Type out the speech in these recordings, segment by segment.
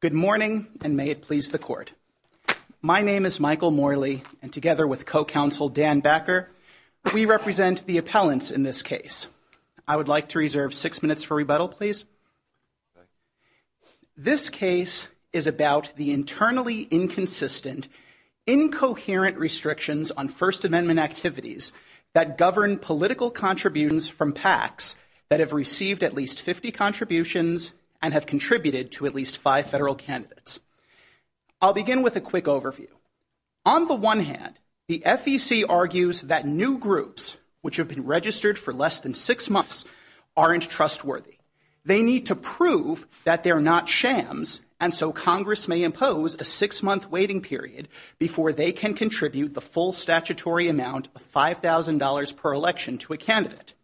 Good morning, and may it please the Court. My name is Michael Morley, and together with co-counsel Dan Backer, we represent the appellants in this case. I would like to reserve six minutes for rebuttal, please. This case is about the internally inconsistent, incoherent restrictions on First Amendment activities that govern political contributions from PACs that have received at least 50 contributions and have contributed to at least five federal candidates. I'll begin with a quick overview. On the one hand, the FEC argues that new groups which have been registered for less than six months aren't trustworthy. They need to prove that they're not shams, and so Congress may impose a six-month waiting period before they can contribute the full statutory amount of $5,000 per election to a candidate.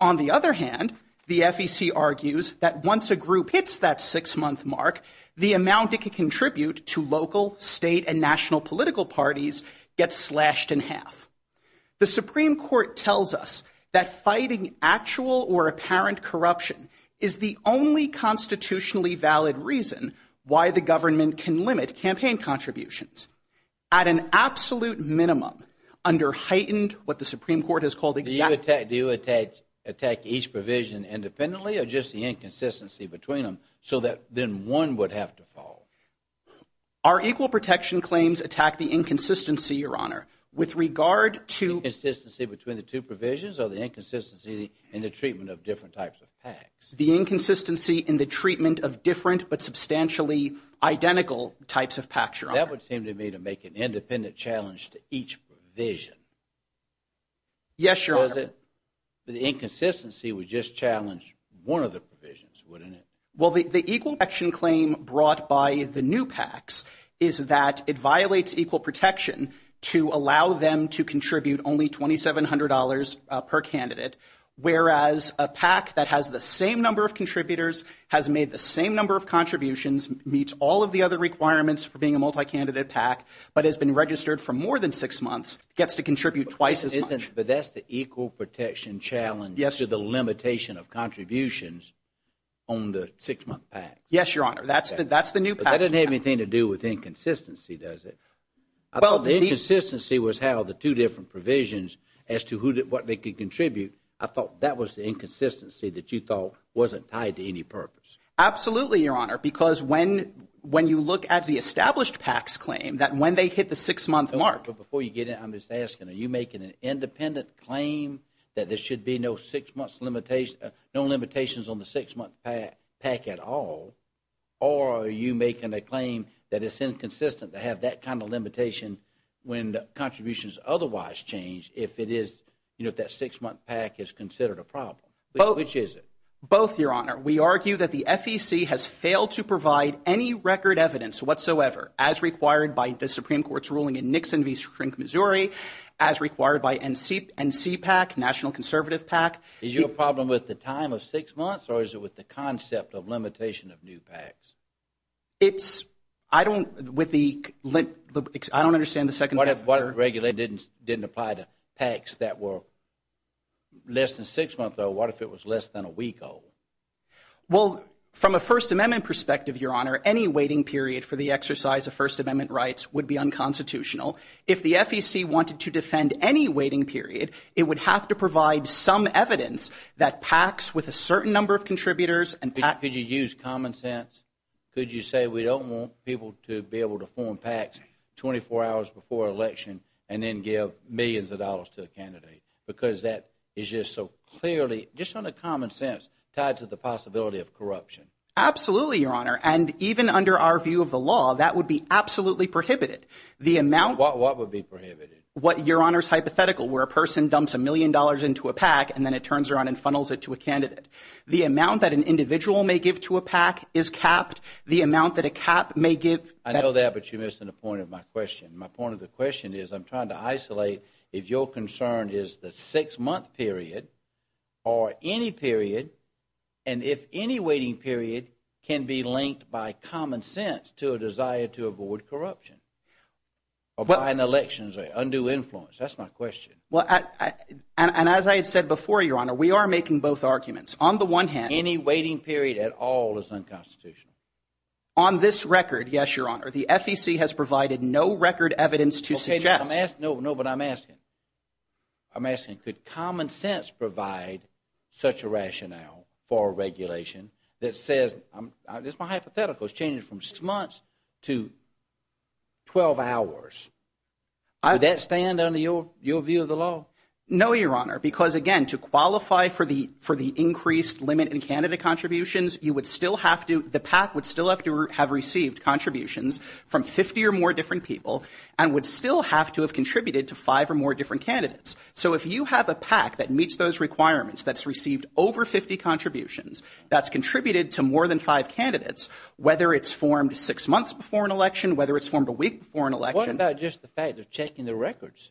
On the other hand, the FEC argues that once a group hits that six-month mark, the amount it can contribute to local, state, and national political parties gets slashed in half. The Supreme Court tells us that fighting actual or apparent corruption is the only constitutionally valid reason why the government can limit campaign contributions. At an absolute minimum, under heightened what the Supreme Court has called exact... Do you attack each provision independently or just the inconsistency between them so that then one would have to fall? Our equal protection claims attack the inconsistency, Your Honor, with regard to... The inconsistency between the two provisions or the inconsistency in the treatment of different types of PACs? The inconsistency in the treatment of different but substantially identical types of PACs, Your Honor. That would seem to me to make an independent challenge to each provision. Yes, Your Honor. But the inconsistency would just challenge one of the provisions, wouldn't it? Well, the equal protection claim brought by the new PACs is that it violates equal protection to allow them to contribute only $2,700 per candidate, whereas a PAC that has the same number of contributors, has made the same number of contributions, meets all of the other requirements for being a multi-candidate PAC, but has been registered for more than six months, gets to contribute twice as much. But that's the equal protection challenge to the limitation of contributions on the six-month PACs. Yes, Your Honor. That's the new PACs. But that doesn't have anything to do with inconsistency, does it? I thought the inconsistency was how the two different provisions as to what they could contribute. I thought that was the inconsistency that you thought wasn't tied to any purpose. Absolutely, Your Honor, because when you look at the established PACs claim, that when they hit the six-month mark. But before you get in, I'm just asking, are you making an independent claim that there should be no six-month limitations, no limitations on the six-month PAC at all, or are you making a claim that it's inconsistent to have that kind of limitation when contributions otherwise change if that six-month PAC is considered a problem? Which is it? Both, Your Honor. We argue that the FEC has failed to provide any record evidence whatsoever, as required by the Supreme Court's ruling in Nixon v. Shrink, Missouri, as required by NCPAC, National Conservative PAC. Is your problem with the time of six months, or is it with the concept of limitation of new PACs? It's, I don't, with the, I don't understand the second part. What if regulations didn't apply to PACs that were less than six months old? What if it was less than a week old? Well, from a First Amendment perspective, Your Honor, any waiting period for the exercise of First Amendment rights would be unconstitutional. If the FEC wanted to defend any waiting period, it would have to provide some evidence that PACs with a certain number of contributors, Could you use common sense? Could you say we don't want people to be able to form PACs 24 hours before an election and then give millions of dollars to a candidate? Because that is just so clearly, just on a common sense, tied to the possibility of corruption. Absolutely, Your Honor. And even under our view of the law, that would be absolutely prohibited. The amount, What would be prohibited? What Your Honor's hypothetical, where a person dumps a million dollars into a PAC and then it turns around and funnels it to a candidate. The amount that an individual may give to a PAC is capped. The amount that a cap may give, I know that, but you're missing the point of my question. My point of the question is, I'm trying to isolate if your concern is the six month period or any period, and if any waiting period can be linked by common sense to a desire to avoid corruption. Or by an election, an undue influence. That's my question. And as I had said before, Your Honor, we are making both arguments. On the one hand, Any waiting period at all is unconstitutional. On this record, yes, Your Honor, the FEC has provided no record evidence to suggest No, but I'm asking. I'm asking, could common sense provide such a rationale for regulation that says, My hypothetical is changing from six months to 12 hours. Does that stand under your view of the law? No, Your Honor, because again, to qualify for the increased limit in candidate contributions, you would still have to, the PAC would still have to have received contributions from 50 or more different people and would still have to have contributed to five or more different candidates. So if you have a PAC that meets those requirements, that's received over 50 contributions, that's contributed to more than five candidates, whether it's formed six months before an election, whether it's formed a week before an election. What about just the fact of checking the records?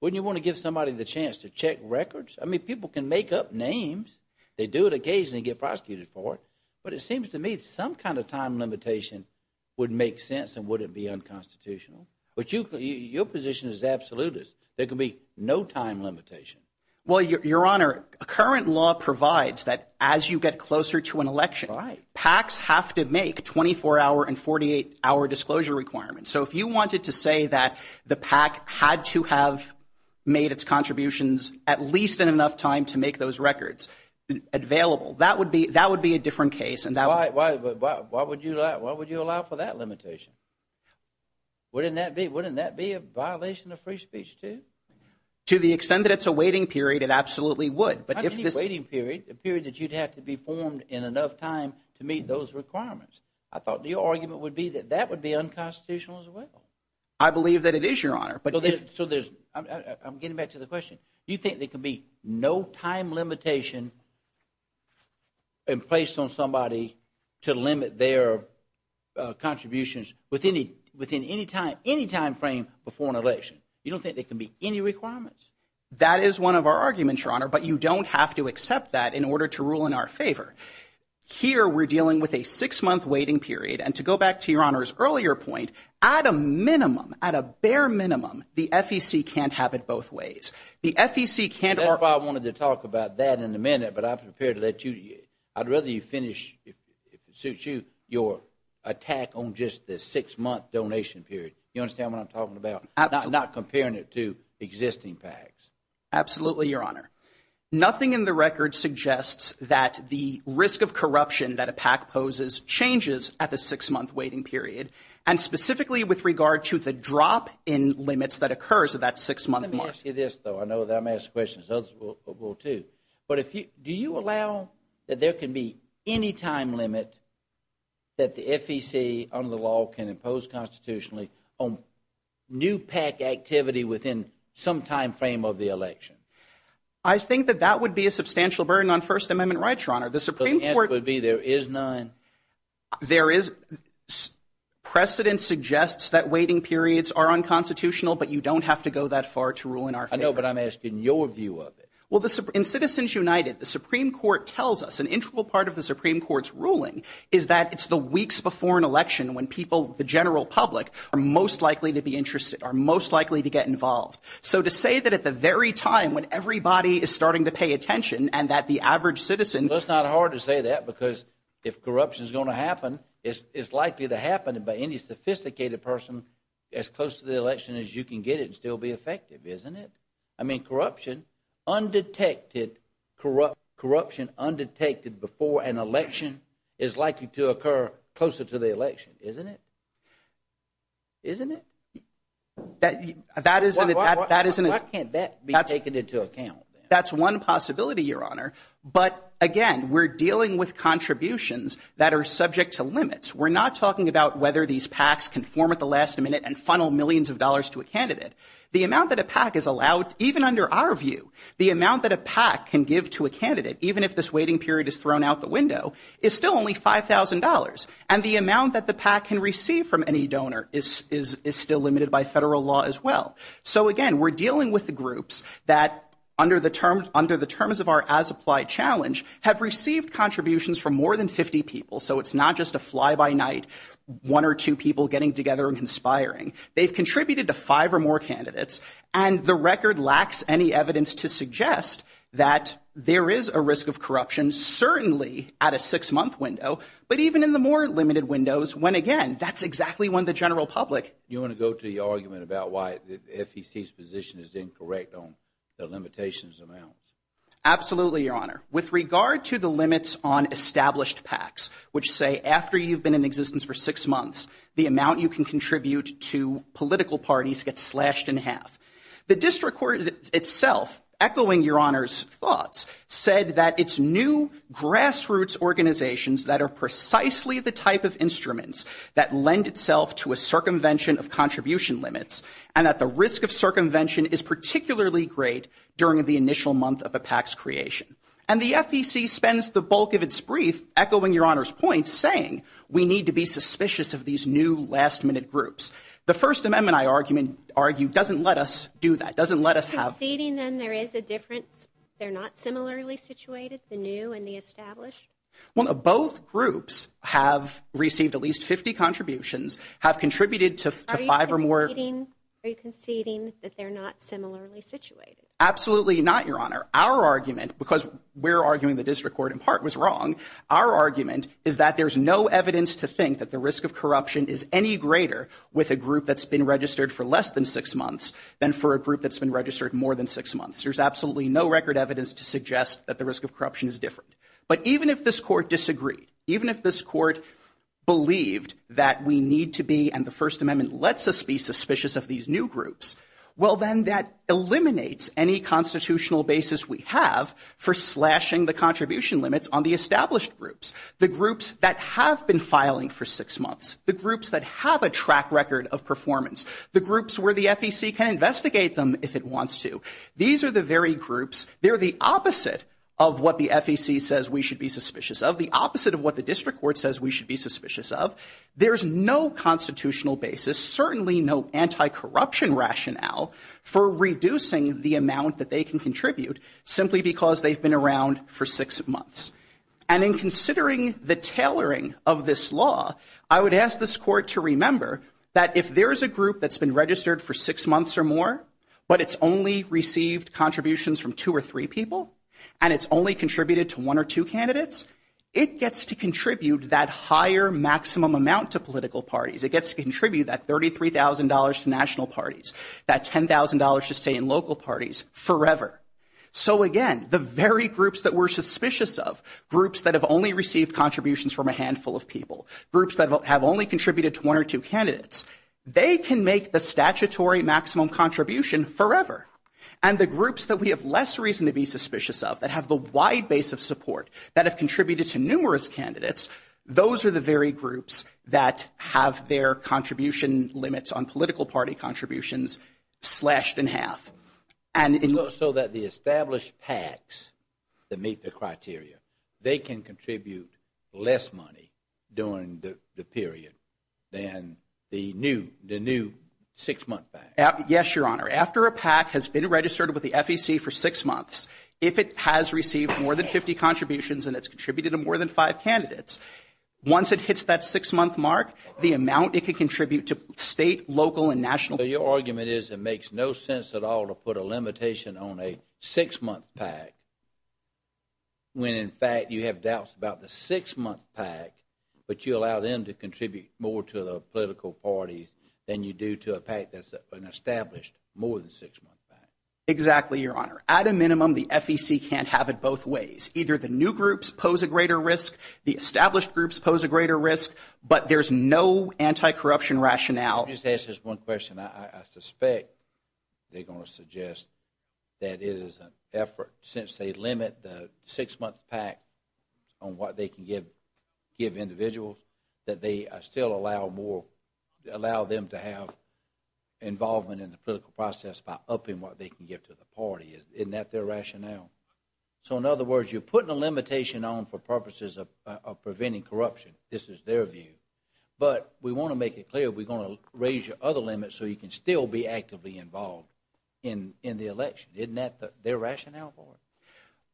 Wouldn't you want to give somebody the chance to check records? I mean, people can make up names. They do it occasionally, get prosecuted for it. But it seems to me some kind of time limitation would make sense and wouldn't be unconstitutional. But your position is absolutist. There could be no time limitation. Well, Your Honor, current law provides that as you get closer to an election, PACs have to make 24-hour and 48-hour disclosure requirements. So if you wanted to say that the PAC had to have made its contributions at least in enough time to make those records available, that would be a different case. Why would you allow for that limitation? Wouldn't that be a violation of free speech too? To the extent that it's a waiting period, it absolutely would. Not any waiting period, a period that you'd have to be formed in enough time to meet those requirements. I thought your argument would be that that would be unconstitutional as well. I believe that it is, Your Honor. I'm getting back to the question. You think there could be no time limitation in place on somebody to limit their contributions within any time frame before an election? You don't think there could be any requirements? That is one of our arguments, Your Honor. But you don't have to accept that in order to rule in our favor. Here, we're dealing with a six-month waiting period. And to go back to Your Honor's earlier point, at a minimum, at a bare minimum, the FEC can't have it both ways. The FEC can't – That's why I wanted to talk about that in a minute. But I'm prepared to let you – I'd rather you finish, if it suits you, your attack on just the six-month donation period. You understand what I'm talking about? Absolutely. I'm not comparing it to existing PACs. Absolutely, Your Honor. Nothing in the record suggests that the risk of corruption that a PAC poses changes at the six-month waiting period, and specifically with regard to the drop in limits that occurs at that six-month mark. Let me ask you this, though. I know that I'm asking questions. Others will, too. Do you allow that there can be any time limit that the FEC under the law can impose constitutionally on new PAC activity within some time frame of the election? I think that that would be a substantial burden on First Amendment rights, Your Honor. The Supreme Court – The answer would be there is none. There is – precedent suggests that waiting periods are unconstitutional, but you don't have to go that far to rule in our favor. I know, but I'm asking your view of it. Well, in Citizens United, the Supreme Court tells us an integral part of the Supreme Court's ruling is that it's the weeks before an election when people, the general public, are most likely to be interested, are most likely to get involved. So to say that at the very time when everybody is starting to pay attention and that the average citizen – Well, it's not hard to say that because if corruption is going to happen, it's likely to happen by any sophisticated person as close to the election as you can get it and still be effective, isn't it? I mean, corruption undetected before an election is likely to occur closer to the election, isn't it? Isn't it? That isn't – Why can't that be taken into account? That's one possibility, Your Honor. But again, we're dealing with contributions that are subject to limits. We're not talking about whether these PACs conform at the last minute and funnel millions of dollars to a candidate. The amount that a PAC is allowed, even under our view, the amount that a PAC can give to a candidate, even if this waiting period is thrown out the window, is still only $5,000. And the amount that the PAC can receive from any donor is still limited by federal law as well. So again, we're dealing with the groups that, under the terms of our as-applied challenge, have received contributions from more than 50 people. So it's not just a fly-by-night, one or two people getting together and conspiring. They've contributed to five or more candidates. And the record lacks any evidence to suggest that there is a risk of corruption, certainly at a six-month window, but even in the more limited windows, when again, that's exactly when the general public – You want to go to the argument about why the FEC's position is incorrect on the limitations amounts? Absolutely, Your Honor. With regard to the limits on established PACs, which say, after you've been in existence for six months, the amount you can contribute to political parties gets slashed in half. The district court itself, echoing Your Honor's thoughts, said that it's new grassroots organizations that are precisely the type of instruments that lend itself to a circumvention of contribution limits, and that the risk of circumvention is particularly great during the initial month of a PAC's creation. And the FEC spends the bulk of its brief, echoing Your Honor's points, saying we need to be suspicious of these new last-minute groups. The First Amendment, I argue, doesn't let us do that. It doesn't let us have – Are you conceding then there is a difference? They're not similarly situated, the new and the established? Well, both groups have received at least 50 contributions, have contributed to five or more – Are you conceding that they're not similarly situated? Absolutely not, Your Honor. Our argument, because we're arguing the district court in part was wrong, our argument is that there's no evidence to think that the risk of corruption is any greater with a group that's been registered for less than six months than for a group that's been registered more than six months. There's absolutely no record evidence to suggest that the risk of corruption is different. But even if this court disagreed, even if this court believed that we need to be, and the First Amendment lets us be suspicious of these new groups, well, then that eliminates any constitutional basis we have for slashing the contribution limits on the established groups, the groups that have been filing for six months, the groups that have a track record of performance, the groups where the FEC can investigate them if it wants to. These are the very groups. They're the opposite of what the FEC says we should be suspicious of, the opposite of what the district court says we should be suspicious of. There's no constitutional basis, certainly no anti-corruption rationale for reducing the amount that they can contribute simply because they've been around for six months. And in considering the tailoring of this law, I would ask this court to remember that if there is a group that's been registered for six months or more, but it's only received contributions from two or three people, and it's only contributed to one or two candidates, it gets to contribute that higher maximum amount to political parties. It gets to contribute that $33,000 to national parties, that $10,000 to state and local parties forever. So again, the very groups that we're suspicious of, groups that have only received contributions from a handful of people, groups that have only contributed to one or two candidates, they can make the statutory maximum contribution forever. And the groups that we have less reason to be suspicious of, that have the wide base of support, that have contributed to numerous candidates, those are the very groups that have their contribution limits on political party contributions slashed in half. So that the established PACs that meet the criteria, they can contribute less money during the period than the new six-month PAC? Yes, Your Honor. After a PAC has been registered with the FEC for six months, if it has received more than 50 contributions and it's contributed to more than five candidates, once it hits that six-month mark, the amount it can contribute to state, local, and national parties is it makes no sense at all to put a limitation on a six-month PAC when in fact you have doubts about the six-month PAC, but you allow them to contribute more to the political parties than you do to a PAC that's an established, more than six-month PAC. Exactly, Your Honor. At a minimum, the FEC can't have it both ways. Either the new groups pose a greater risk, the established groups pose a greater risk, but there's no anti-corruption rationale. Let me just ask this one question. I suspect they're going to suggest that it is an effort since they limit the six-month PAC on what they can give individuals that they still allow more, allow them to have involvement in the political process by upping what they can give to the party. Isn't that their rationale? So in other words, you're putting a limitation on for purposes of preventing corruption. This is their view. But we want to make it clear we're going to raise your other limits so you can still be actively involved in the election. Isn't that their rationale for it?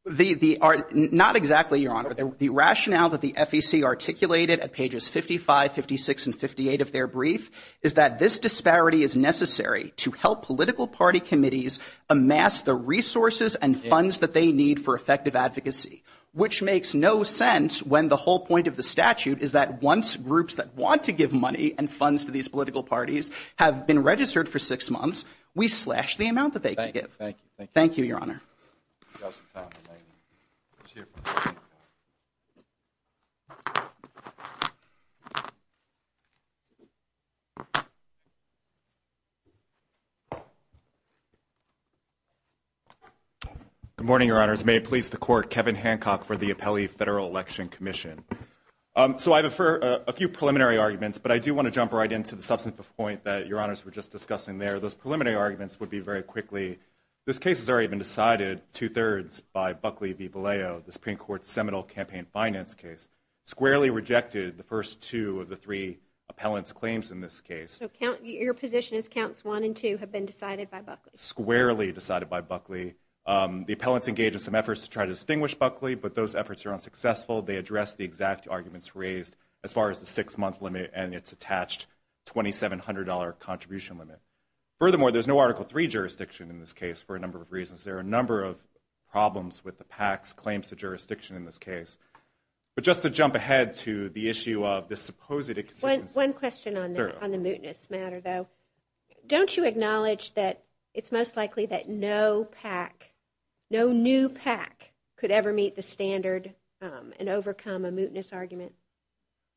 Not exactly, Your Honor. The rationale that the FEC articulated at pages 55, 56, and 58 of their brief is that this disparity is necessary to help political party committees amass the resources and funds that they need for effective advocacy, which makes no sense when the whole point of the statute is that once groups that want to give money and funds to these political parties have been registered for six months, we slash the amount that they give. Thank you. Thank you, Your Honor. Good morning, Your Honors. May it please the Court, Kevin Hancock for the Appellee Federal Election Commission. So I have a few preliminary arguments, but I do want to jump right into the substantive point that Your Honors were just discussing there. Those preliminary arguments would be very quickly, this case has already been decided two-thirds by Buckley v. Bolleo, the Supreme Court's Seminole campaign finance case, squarely rejected the first two of the three appellants' claims in this case. So your position is counts one and two have been decided by Buckley? Squarely decided by Buckley. The appellants engage in some efforts to try to distinguish Buckley, but those efforts are unsuccessful. They address the exact arguments raised as far as the six-month limit and its attached $2,700 contribution limit. Furthermore, there's no Article III jurisdiction in this case for a number of reasons. There are a number of problems with the PAC's claims to jurisdiction in this case. But just to jump ahead to the issue of the supposed inconsistency. One question on the mootness matter, though. Don't you acknowledge that it's most likely that no PAC, could ever meet the standard and overcome a mootness argument?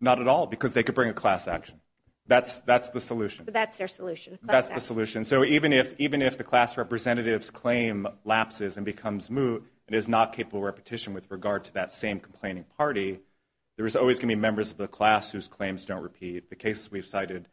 Not at all, because they could bring a class action. That's the solution. But that's their solution. That's the solution. So even if the class representative's claim lapses and becomes moot and is not capable of repetition with regard to that same complaining party, there is always going to be members of the class whose claims don't repeat. The cases we've cited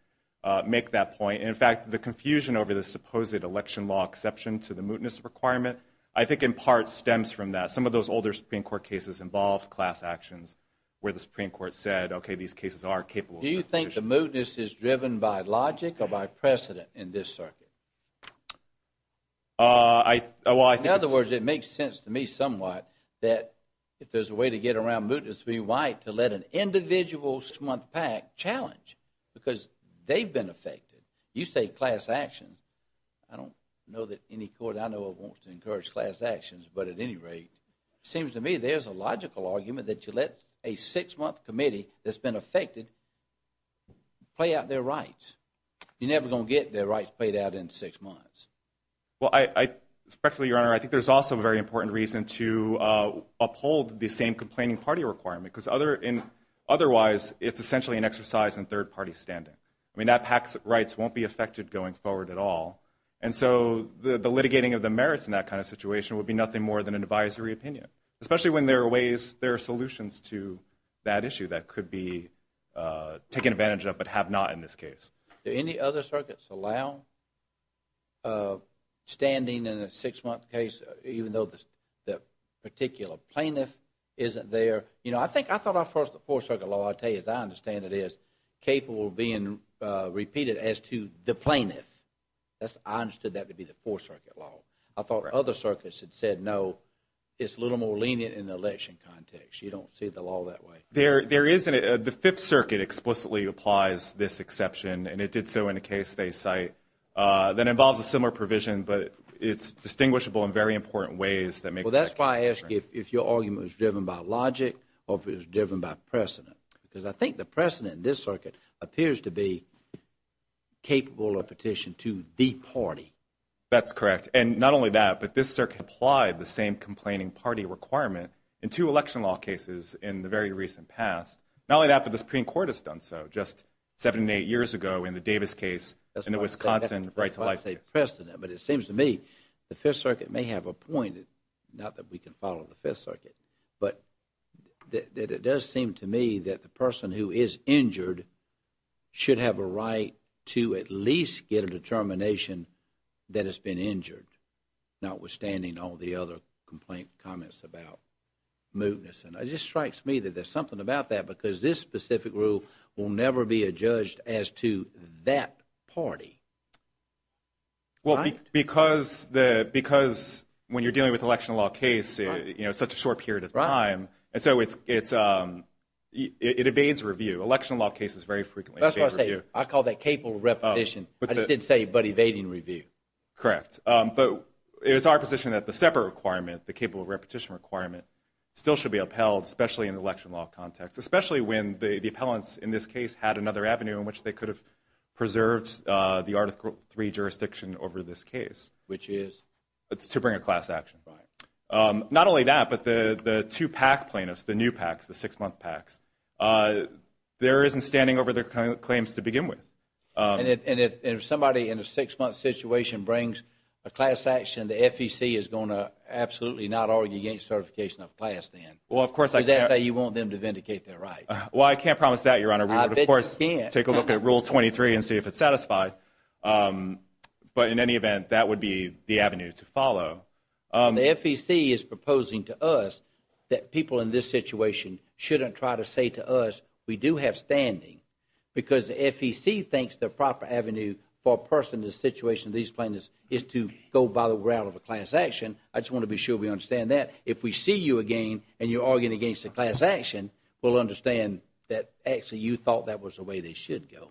make that point. In fact, the confusion over the supposed election law exception to the mootness requirement, I think in part stems from that. Some of those older Supreme Court cases involved class actions where the Supreme Court said, okay, these cases are capable of repetition. Do you think the mootness is driven by logic or by precedent in this circuit? In other words, it makes sense to me somewhat that if there's a way to get around mootness to be white, to let an individual smut PAC challenge, because they've been affected. You say class actions. I don't know that any court I know of wants to encourage class actions, but at any rate, it seems to me there's a logical argument that you let a six-month committee that's been affected play out their rights. You're never going to get their rights played out in six months. Well, respectfully, Your Honor, I think there's also a very important reason to uphold the same complaining party requirement, because otherwise it's essentially an exercise in third-party standing. I mean, that PAC's rights won't be affected going forward at all, and so the litigating of the merits in that kind of situation would be nothing more than an advisory opinion, especially when there are ways, there are solutions to that issue that could be taken advantage of but have not in this case. Do any other circuits allow standing in a six-month case, even though the particular plaintiff isn't there? You know, I think I thought at first the Fourth Circuit Law, I tell you as I understand it, is capable of being repeated as to the plaintiff. I understood that to be the Fourth Circuit Law. I thought other circuits had said no. It's a little more lenient in the election context. You don't see the law that way. The Fifth Circuit explicitly applies this exception, and it did so in a case they cite that involves a similar provision, but it's distinguishable in very important ways. Well, that's why I asked you if your argument was driven by logic or if it was driven by precedent, because I think the precedent in this circuit appears to be capable of petition to the party. That's correct, and not only that, but this circuit applied the same complaining party requirement in two election law cases in the very recent past. Not only that, but the Supreme Court has done so just seven to eight years ago in the Davis case and the Wisconsin right-to-life case. That's why I say precedent, but it seems to me the Fifth Circuit may have a point, not that we can follow the Fifth Circuit, but that it does seem to me that the person who is injured should have a right to at least get a determination that has been injured, notwithstanding all the other complaint comments about mootness. And it just strikes me that there's something about that because this specific rule will never be adjudged as to that party. Well, because when you're dealing with an election law case, it's such a short period of time, and so it evades review. Election law cases very frequently evade review. I call that capable of repetition. I just didn't say but evading review. Correct, but it's our position that the separate requirement, the capable of repetition requirement, still should be upheld, especially in the election law context, especially when the appellants in this case had another avenue in which they could have preserved the Article III jurisdiction over this case. Which is? To bring a class action. Right. Not only that, but the two PAC plaintiffs, the new PACs, the six-month PACs, there isn't standing over their claims to begin with. And if somebody in a six-month situation brings a class action, the FEC is going to absolutely not argue against certification of class then. Well, of course I can't. Because that's how you want them to vindicate their right. Well, I can't promise that, Your Honor. I bet you can't. We would, of course, take a look at Rule 23 and see if it's satisfied. But in any event, that would be the avenue to follow. The FEC is proposing to us that people in this situation shouldn't try to say to us, we do have standing because the FEC thinks the proper avenue for a person in this situation, these plaintiffs, is to go by the route of a class action. I just want to be sure we understand that. If we see you again and you're arguing against a class action, we'll understand that actually you thought that was the way they should go.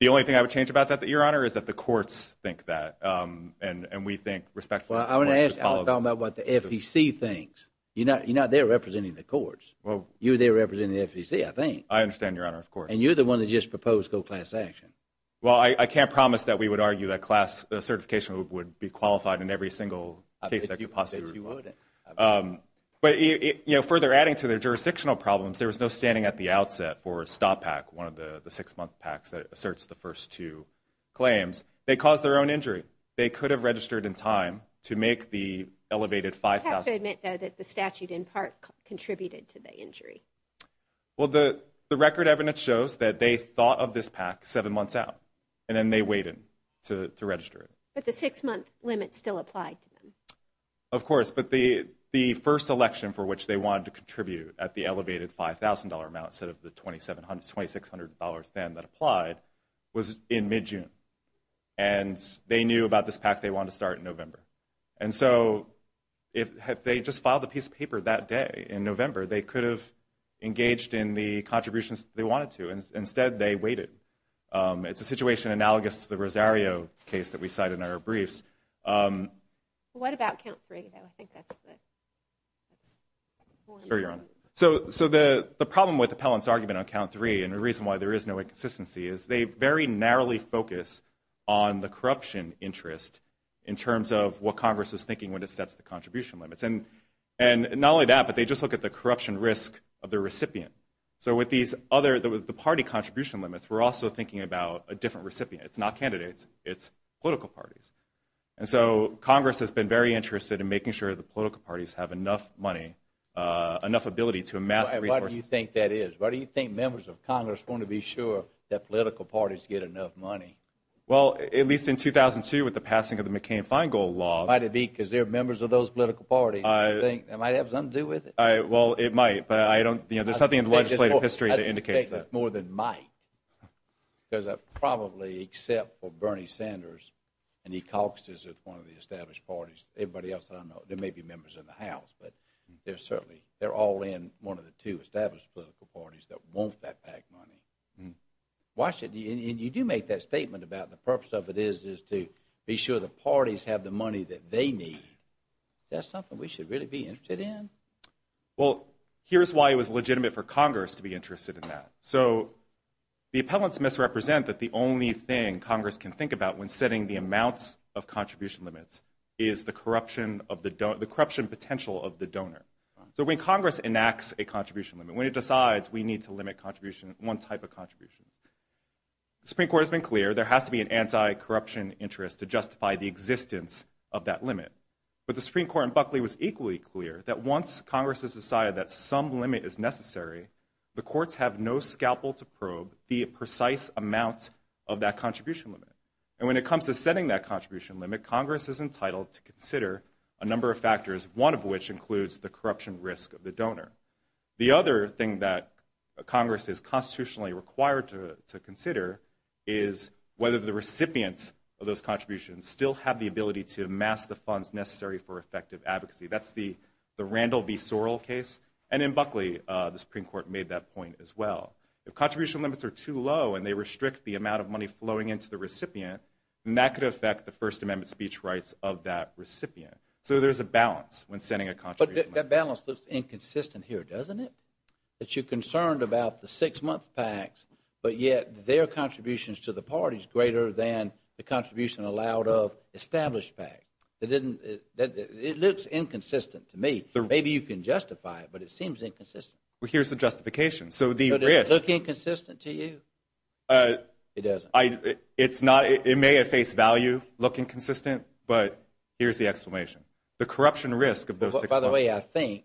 The only thing I would change about that, Your Honor, is that the courts think that. And we think respectfully that's the way it should follow. Well, I want to talk about what the FEC thinks. You're not there representing the courts. You're there representing the FEC, I think. I understand, Your Honor, of course. And you're the one that just proposed go class action. Well, I can't promise that we would argue that class certification would be qualified in every single case that could possibly be. But, you know, further adding to their jurisdictional problems, there was no standing at the outset for STOP PAC, one of the six-month PACs that asserts the first two claims. They caused their own injury. They could have registered in time to make the elevated $5,000. I have to admit, though, that the statute in part contributed to the injury. Well, the record evidence shows that they thought of this PAC seven months out, and then they waited to register it. But the six-month limit still applied to them. Of course. But the first election for which they wanted to contribute at the elevated $5,000 amount instead of the $2,600 then that applied was in mid-June. And they knew about this PAC they wanted to start in November. And so if they just filed a piece of paper that day in November, they could have engaged in the contributions they wanted to. Instead, they waited. It's a situation analogous to the Rosario case that we cite in our briefs. What about count three, though? Sure, Your Honor. So the problem with Appellant's argument on count three and the reason why there is no inconsistency is they very narrowly focus on the corruption interest in terms of what Congress was thinking when it sets the contribution limits. And not only that, but they just look at the corruption risk of the recipient. So with the party contribution limits, we're also thinking about a different recipient. It's not candidates. It's political parties. And so Congress has been very interested in making sure the political parties have enough money, enough ability to amass resources. Why do you think that is? Why do you think members of Congress want to be sure that political parties get enough money? Well, at least in 2002 with the passing of the McCain-Feingold Law. It might be because they're members of those political parties. I think it might have something to do with it. Well, it might, but there's nothing in the legislative history that indicates that. Because I probably except for Bernie Sanders and he caucuses with one of the established parties. Everybody else I don't know. There may be members in the House, but they're all in one of the two established political parties that want that PAC money. And you do make that statement about the purpose of it is to be sure the parties have the money that they need. That's something we should really be interested in? Well, here's why it was legitimate for Congress to be interested in that. So the appellants misrepresent that the only thing Congress can think about when setting the amounts of contribution limits is the corruption potential of the donor. So when Congress enacts a contribution limit, when it decides we need to limit one type of contribution, the Supreme Court has been clear there has to be an anti-corruption interest to justify the existence of that limit. But the Supreme Court in Buckley was equally clear that once Congress has decided that some limit is necessary, the courts have no scalpel to probe the precise amount of that contribution limit. And when it comes to setting that contribution limit, Congress is entitled to consider a number of factors, one of which includes the corruption risk of the donor. The other thing that Congress is constitutionally required to consider is whether the recipients of those contributions still have the ability to amass the funds necessary for effective advocacy. That's the Randall v. Sorrell case, and in Buckley the Supreme Court made that point as well. If contribution limits are too low and they restrict the amount of money flowing into the recipient, then that could affect the First Amendment speech rights of that recipient. So there's a balance when setting a contribution limit. But that balance looks inconsistent here, doesn't it? That you're concerned about the six-month PACs, but yet their contributions to the parties greater than the contribution allowed of established PACs. It looks inconsistent to me. Maybe you can justify it, but it seems inconsistent. Well, here's the justification. So does it look inconsistent to you? It doesn't. It may at face value look inconsistent, but here's the explanation. The corruption risk of those six months. By the way, I think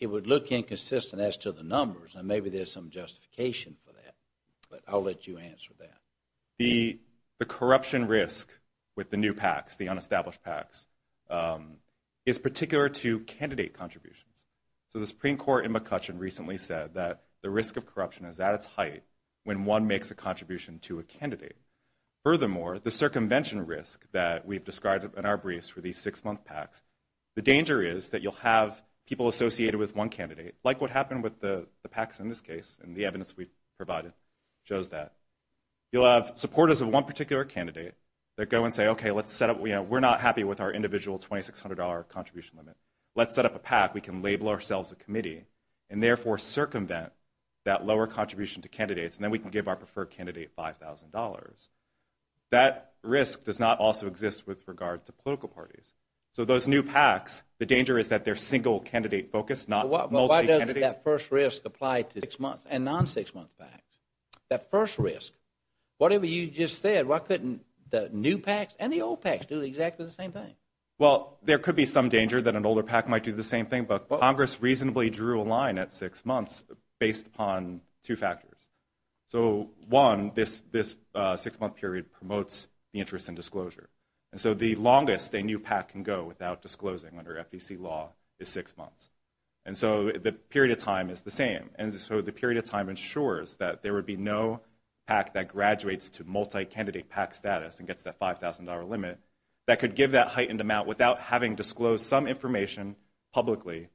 it would look inconsistent as to the numbers, and maybe there's some justification for that, but I'll let you answer that. The corruption risk with the new PACs, the unestablished PACs, is particular to candidate contributions. So the Supreme Court in McCutcheon recently said that the risk of corruption is at its height when one makes a contribution to a candidate. Furthermore, the circumvention risk that we've described in our briefs for these six-month PACs, the danger is that you'll have people associated with one candidate, like what happened with the PACs in this case, and the evidence we've provided shows that. You'll have supporters of one particular candidate that go and say, okay, we're not happy with our individual $2,600 contribution limit. Let's set up a PAC. We can label ourselves a committee and therefore circumvent that lower contribution to candidates, and then we can give our preferred candidate $5,000. That risk does not also exist with regard to political parties. So those new PACs, the danger is that they're single-candidate focused, not multi-candidate. But why doesn't that first risk apply to six-month and non-six-month PACs? That first risk, whatever you just said, why couldn't the new PACs and the old PACs do exactly the same thing? Well, there could be some danger that an older PAC might do the same thing, but Congress reasonably drew a line at six months based upon two factors. So, one, this six-month period promotes the interest in disclosure. And so the longest a new PAC can go without disclosing under FEC law is six months. And so the period of time is the same. And so the period of time ensures that there would be no PAC that graduates to multi-candidate PAC status and gets that $5,000 limit that could give that heightened amount without having disclosed some information publicly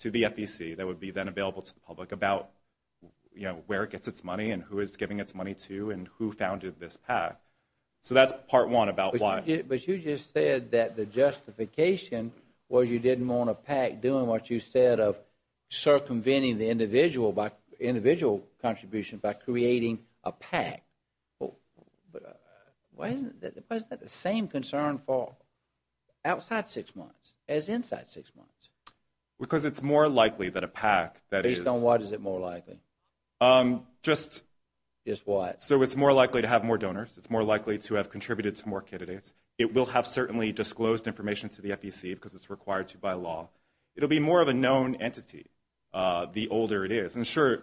to the FEC that would be then available to the public about where it gets its money and who it's giving its money to and who founded this PAC. So that's part one about why. But you just said that the justification was you didn't want a PAC doing what you said of circumventing the individual contribution by creating a PAC. Wasn't that the same concern for outside six months as inside six months? Because it's more likely that a PAC that is... Based on what is it more likely? Just... Just what? So it's more likely to have more donors. It's more likely to have contributed to more candidates. It will have certainly disclosed information to the FEC because it's required to by law. It will be more of a known entity the older it is. And sure,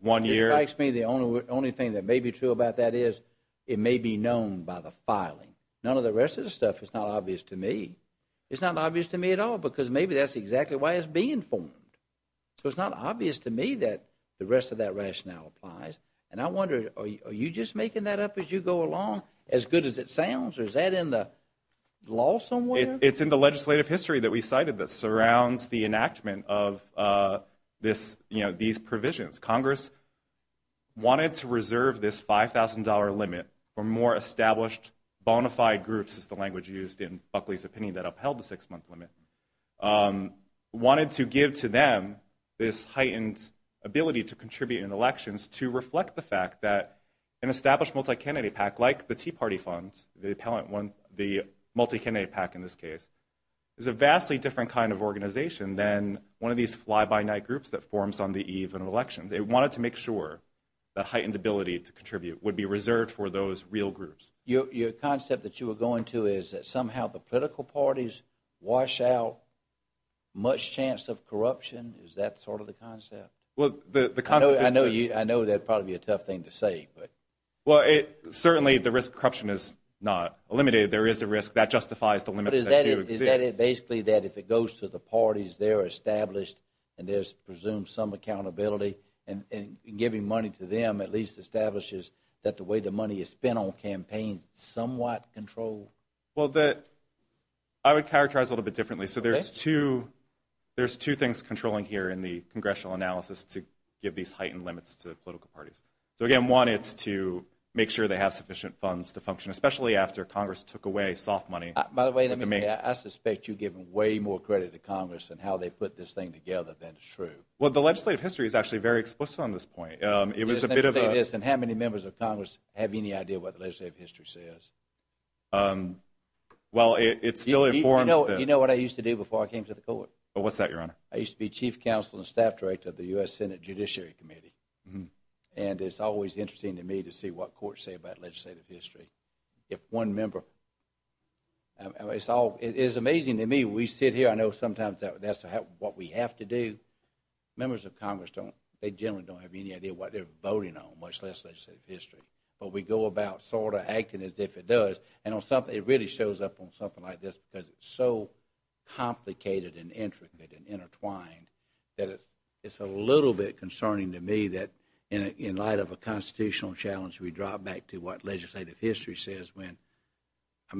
one year... It strikes me the only thing that may be true about that is it may be known by the filing. None of the rest of the stuff is not obvious to me. It's not obvious to me at all because maybe that's exactly why it's being formed. So it's not obvious to me that the rest of that rationale applies. And I wonder, are you just making that up as you go along as good as it sounds? Or is that in the law somewhere? It's in the legislative history that we cited that surrounds the enactment of these provisions. Congress wanted to reserve this $5,000 limit for more established, bona fide groups, as the language used in Buckley's opinion that upheld the six-month limit. Wanted to give to them this heightened ability to contribute in elections to reflect the fact that an established multi-candidate pack like the Tea Party Fund, the multi-candidate pack in this case, is a vastly different kind of organization than one of these fly-by-night groups that forms on the eve of an election. They wanted to make sure that heightened ability to contribute would be reserved for those real groups. Your concept that you were going to is that somehow the political parties wash out much chance of corruption? Is that sort of the concept? I know that would probably be a tough thing to say. Well, certainly the risk of corruption is not limited. There is a risk that justifies the limits that do exist. But is that basically that if it goes to the parties, they're established, and there's presumed some accountability, and giving money to them at least establishes that the way the money is spent on campaigns is somewhat controlled? Well, I would characterize it a little bit differently. So there's two things controlling here in the congressional analysis to give these heightened limits to the political parties. So again, one, it's to make sure they have sufficient funds to function, especially after Congress took away soft money. By the way, let me say, I suspect you're giving way more credit to Congress in how they put this thing together than is true. Well, the legislative history is actually very explicit on this point. Let me say this. How many members of Congress have any idea what the legislative history says? Well, it still informs them. You know what I used to do before I came to the court? What's that, Your Honor? I used to be Chief Counsel and Staff Director of the U.S. Senate Judiciary Committee. And it's always interesting to me to see what courts say about legislative history. If one member... It's amazing to me. We sit here. I know sometimes that's what we have to do. Members of Congress, they generally don't have any idea what they're voting on, much less legislative history. But we go about sort of acting as if it does. And it really shows up on something like this because it's so complicated and intricate and intertwined that it's a little bit concerning to me that in light of a constitutional challenge, we drop back to what legislative history says when... I'd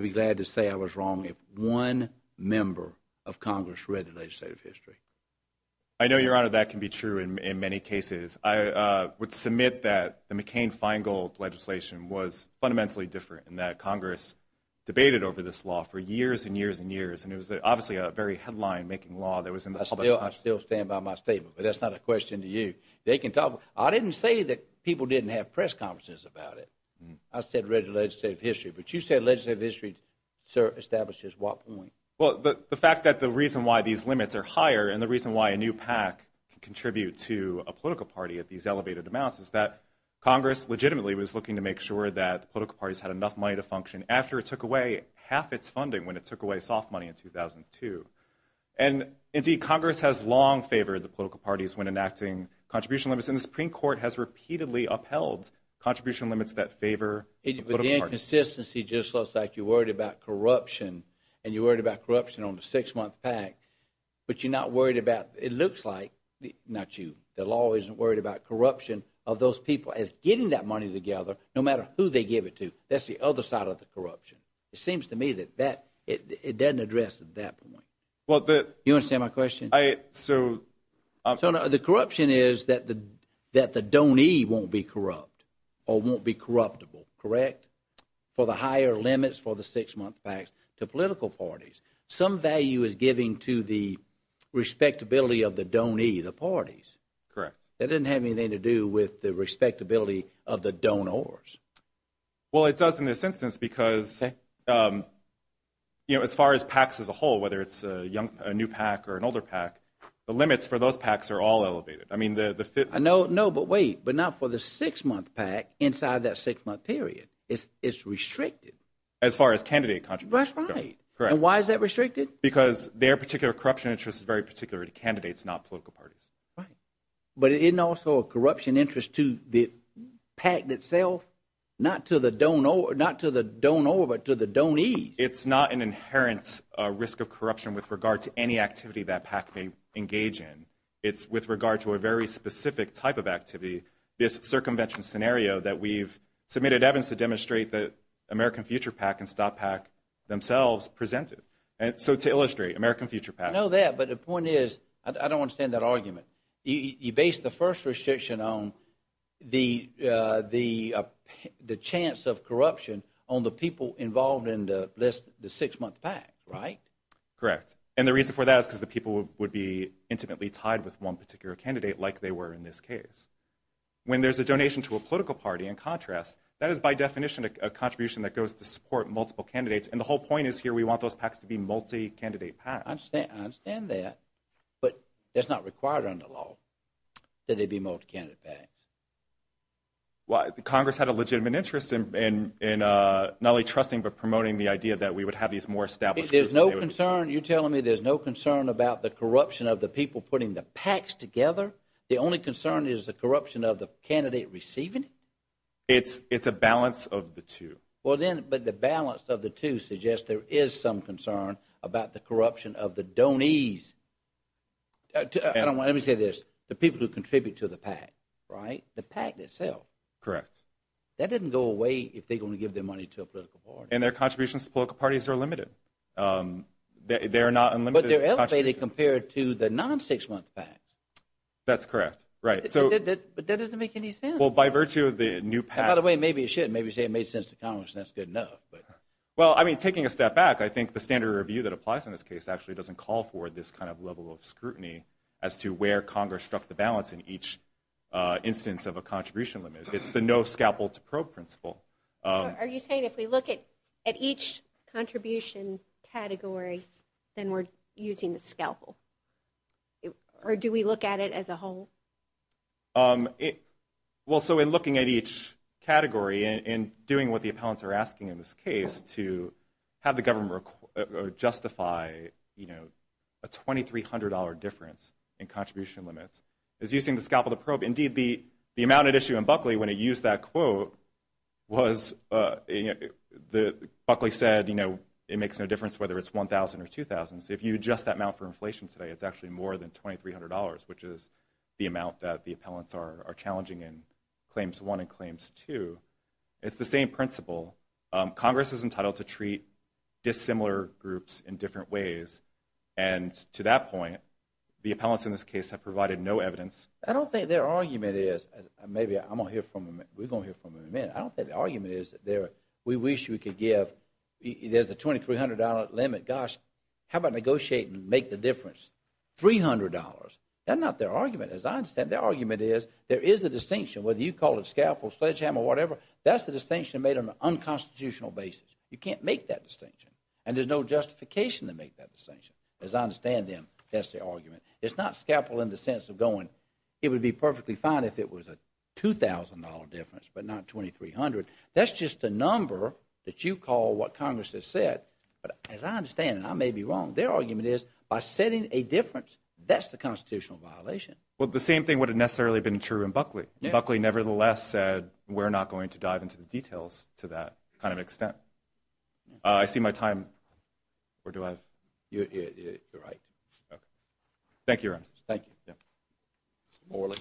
be glad to say I was wrong if one member of Congress read the legislative history. I know, Your Honor, that can be true in many cases. I would submit that the McCain-Feingold legislation was fundamentally different and that Congress debated over this law for years and years and years. And it was obviously a very headline-making law. I still stand by my statement. But that's not a question to you. I didn't say that people didn't have press conferences about it. I said read the legislative history. But you said legislative history establishes what point? Well, the fact that the reason why these limits are higher and the reason why a new PAC can contribute to a political party at these elevated amounts is that Congress legitimately was looking to make sure that political parties had enough money to function after it took away half its funding when it took away soft money in 2002. And, indeed, Congress has long favored the political parties when enacting contribution limits. And the Supreme Court has repeatedly upheld contribution limits that favor political parties. But the inconsistency just looks like you're worried about corruption and you're worried about corruption on the six-month PAC, but you're not worried about it looks like, not you, the law isn't worried about corruption of those people as getting that money together, no matter who they give it to. That's the other side of the corruption. It seems to me that it doesn't address that point. You understand my question? So the corruption is that the donee won't be corrupt or won't be corruptible, correct, for the higher limits for the six-month PACs to political parties. Some value is given to the respectability of the donee, the parties. Correct. That doesn't have anything to do with the respectability of the donors. Well, it does in this instance because, you know, as far as PACs as a whole, whether it's a new PAC or an older PAC, the limits for those PACs are all elevated. No, but wait, but not for the six-month PAC inside that six-month period. It's restricted. As far as candidate contributions go. That's right. Correct. And why is that restricted? Because their particular corruption interest is very particular to candidates, not political parties. Right. But isn't also a corruption interest to the PAC itself, not to the donor, but to the donee? It's not an inherent risk of corruption with regard to any activity that PAC may engage in. It's with regard to a very specific type of activity, this circumvention scenario that we've submitted evidence to demonstrate that American Future PAC and Stop PAC themselves presented. So to illustrate, American Future PAC. I know that, but the point is, I don't understand that argument. You base the first restriction on the chance of corruption on the people involved in the six-month PAC, right? Correct. And the reason for that is because the people would be intimately tied with one particular candidate like they were in this case. When there's a donation to a political party, in contrast, that is by definition a contribution that goes to support multiple candidates, and the whole point is here we want those PACs to be multi-candidate PACs. I understand that, but it's not required under law that they be multi-candidate PACs. Well, Congress had a legitimate interest in not only trusting but promoting the idea that we would have these more established groups. There's no concern, you're telling me there's no concern about the corruption of the people putting the PACs together? The only concern is the corruption of the candidate receiving it? It's a balance of the two. Well, then, but the balance of the two suggests there is some concern about the corruption of the donees. Let me say this, the people who contribute to the PAC, right, the PAC itself. Correct. That doesn't go away if they're going to give their money to a political party. And their contributions to political parties are limited. They're not unlimited contributions. But they're elevated compared to the non-six-month PACs. That's correct, right. But that doesn't make any sense. Well, by virtue of the new PACs. By the way, maybe it should. Maybe you say it made sense to Congress and that's good enough. Well, I mean, taking a step back, I think the standard review that applies in this case actually doesn't call for this kind of level of scrutiny as to where Congress struck the balance in each instance of a contribution limit. It's the no scalpel to probe principle. Are you saying if we look at each contribution category, then we're using the scalpel? Or do we look at it as a whole? Well, so in looking at each category and doing what the appellants are asking in this case to have the government justify, you know, a $2,300 difference in contribution limits is using the scalpel to probe. Indeed, the amount at issue in Buckley when it used that quote was Buckley said, you know, it makes no difference whether it's $1,000 or $2,000. If you adjust that amount for inflation today, it's actually more than $2,300, which is the amount that the appellants are challenging in Claims 1 and Claims 2. It's the same principle. Congress is entitled to treat dissimilar groups in different ways. And to that point, the appellants in this case have provided no evidence. I don't think their argument is, maybe I'm going to hear from them, we're going to hear from them in a minute. I don't think the argument is that we wish we could give, there's a $2,300 limit. Gosh, how about negotiate and make the difference, $300. That's not their argument. As I understand, their argument is there is a distinction whether you call it scalpel, sledgehammer, whatever. That's the distinction made on an unconstitutional basis. You can't make that distinction. And there's no justification to make that distinction. As I understand them, that's their argument. It's not scalpel in the sense of going, it would be perfectly fine if it was a $2,000 difference but not $2,300. That's just a number that you call what Congress has said. But as I understand, and I may be wrong, their argument is by setting a difference, that's the constitutional violation. Well, the same thing would have necessarily been true in Buckley. Buckley nevertheless said we're not going to dive into the details to that kind of extent. I see my time. Or do I have? You're right. Okay. Thank you, Your Honor. Thank you. Morley.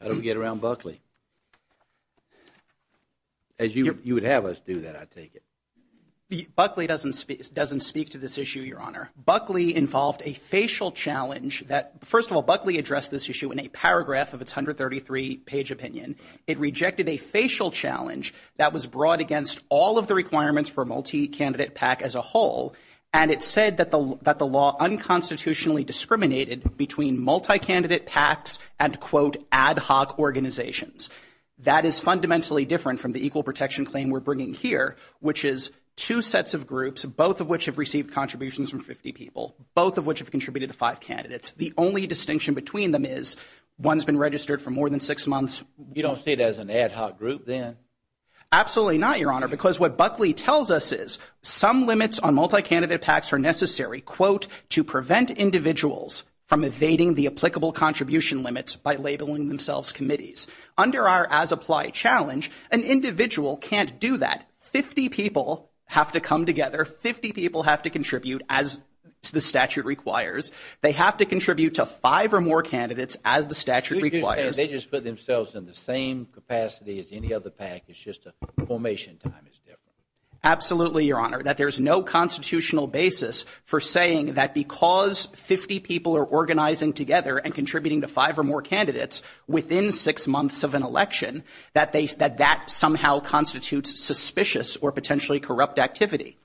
How did we get around Buckley? As you would have us do that, I take it. Buckley doesn't speak to this issue, Your Honor. Buckley involved a facial challenge. First of all, Buckley addressed this issue in a paragraph of its 133-page opinion. It rejected a facial challenge that was brought against all of the requirements for a multi-candidate PAC as a whole. And it said that the law unconstitutionally discriminated between multi-candidate PACs and, quote, ad hoc organizations. That is fundamentally different from the equal protection claim we're bringing here, which is two sets of groups, both of which have received contributions from 50 people, both of which have contributed to five candidates. The only distinction between them is one's been registered for more than six months. You don't see it as an ad hoc group then? Absolutely not, Your Honor, because what Buckley tells us is some limits on multi-candidate PACs are necessary, quote, to prevent individuals from evading the applicable contribution limits by labeling themselves committees. Under our as-applied challenge, an individual can't do that. Fifty people have to come together. Fifty people have to contribute, as the statute requires. They have to contribute to five or more candidates, as the statute requires. They just put themselves in the same capacity as any other PAC. It's just the formation time is different. Absolutely, Your Honor, that there's no constitutional basis for saying that because 50 people are organizing together and contributing to five or more candidates within six months of an election, that that somehow constitutes suspicious or potentially corrupt activity.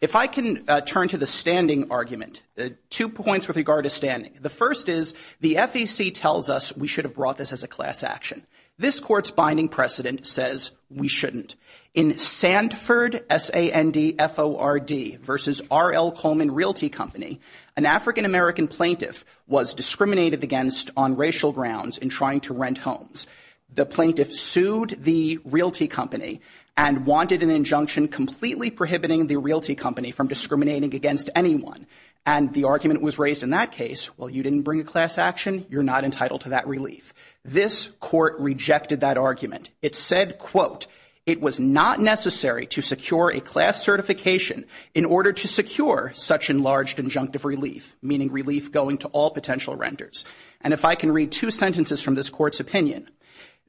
If I can turn to the standing argument, two points with regard to standing. The first is the FEC tells us we should have brought this as a class action. This court's binding precedent says we shouldn't. In Sandford, S-A-N-D-F-O-R-D versus R.L. Coleman Realty Company, an African-American plaintiff was discriminated against on racial grounds in trying to rent homes. The plaintiff sued the realty company and wanted an injunction completely prohibiting the realty company from discriminating against anyone. And the argument was raised in that case, well, you didn't bring a class action. You're not entitled to that relief. This court rejected that argument. It said, quote, it was not necessary to secure a class certification in order to secure such enlarged injunctive relief, meaning relief going to all potential renters. And if I can read two sentences from this court's opinion,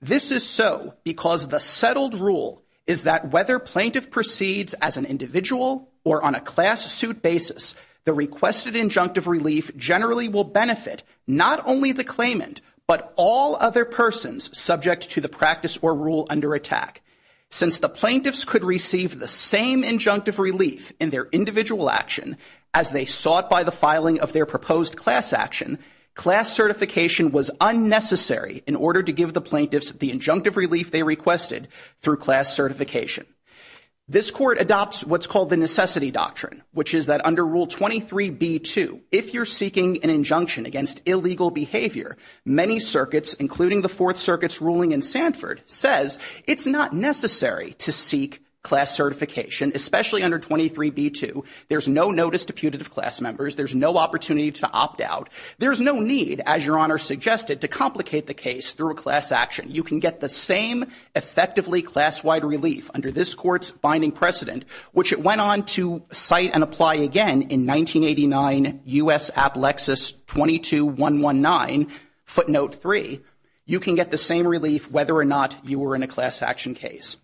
this is so because the settled rule is that whether plaintiff proceeds as an individual or on a class suit basis, the requested injunctive relief generally will benefit not only the claimant, but all other persons subject to the practice or rule under attack. Since the plaintiffs could receive the same injunctive relief in their individual action as they sought by the filing of their proposed class action, class certification was unnecessary in order to give the plaintiffs the injunctive relief they requested through class certification. This court adopts what's called the necessity doctrine, which is that under Rule 23b-2, if you're seeking an injunction against illegal behavior, many circuits, including the Fourth Circuit's ruling in Sanford, says it's not necessary to seek class certification, especially under 23b-2. There's no notice to putative class members. There's no opportunity to opt out. There's no need, as Your Honor suggested, to complicate the case through a class action. You can get the same effectively class-wide relief under this court's binding precedent, which it went on to cite and apply again in 1989 U.S. Applexus 22-119 footnote 3. You can get the same relief whether or not you were in a class action case.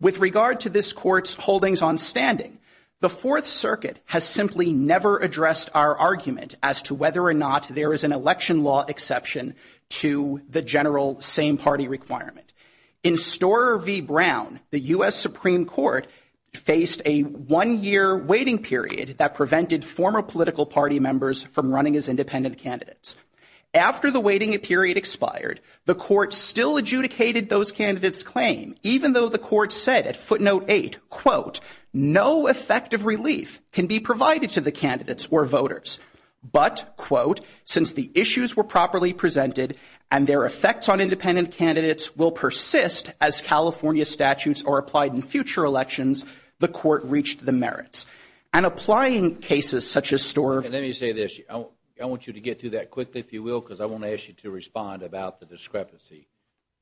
With regard to this court's holdings on standing, the Fourth Circuit has simply never addressed our argument as to whether or not there is an election law exception to the general same-party requirement. In Storer v. Brown, the U.S. Supreme Court faced a one-year waiting period that prevented former political party members from running as independent candidates. After the waiting period expired, the court still adjudicated those candidates' claim, even though the court said at footnote 8, quote, no effective relief can be provided to the candidates or voters. But, quote, since the issues were properly presented and their effects on independent candidates will persist as California statutes are applied in future elections, the court reached the merits. And applying cases such as Storer v. Brown. And let me say this. I want you to get through that quickly, if you will, because I want to ask you to respond about the discrepancy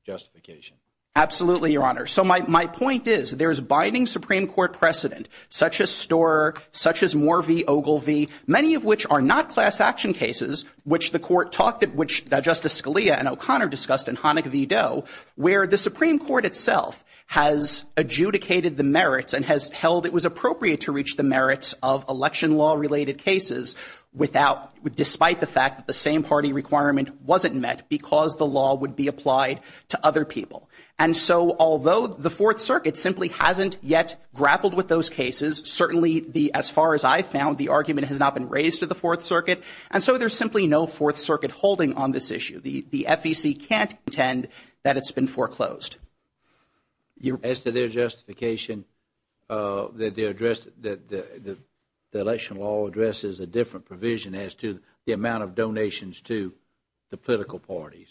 justification. Absolutely, Your Honor. So my point is, there's binding Supreme Court precedent, such as Storer, such as Moore v. Ogilvie, many of which are not class action cases, which the court talked at, which Justice Scalia and O'Connor discussed in Hanukkah v. Doe, where the Supreme Court itself has adjudicated the merits and has held it was appropriate to reach the merits of election law-related cases despite the fact that the same party requirement wasn't met because the law would be applied to other people. And so although the Fourth Circuit simply hasn't yet grappled with those cases, certainly, as far as I've found, the argument has not been raised to the Fourth Circuit. And so there's simply no Fourth Circuit holding on this issue. The FEC can't contend that it's been foreclosed. As to their justification that the election law addresses a different provision as to the amount of donations to the political parties?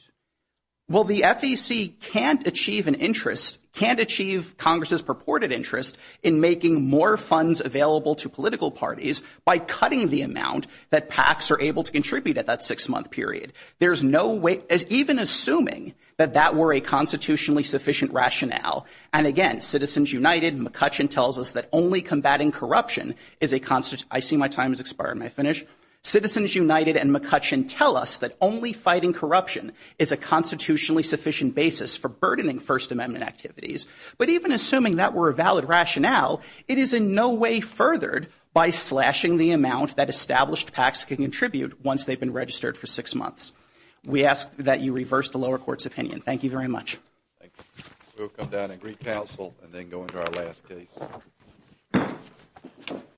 Well, the FEC can't achieve an interest, can't achieve Congress's purported interest in making more funds available to political parties by cutting the amount that PACs are able to contribute at that six-month period. There's no way, even assuming that that were a constitutionally sufficient rationale, and again, Citizens United, McCutcheon tells us that only combating corruption is a, I see my time has expired, may I finish? Citizens United and McCutcheon tell us that only fighting corruption is a constitutionally sufficient basis for burdening First Amendment activities. But even assuming that were a valid rationale, it is in no way furthered by slashing the amount that established PACs can contribute once they've been registered for six months. We ask that you reverse the lower court's opinion. Thank you very much. Thank you. We'll come down and recouncil and then go into our last case.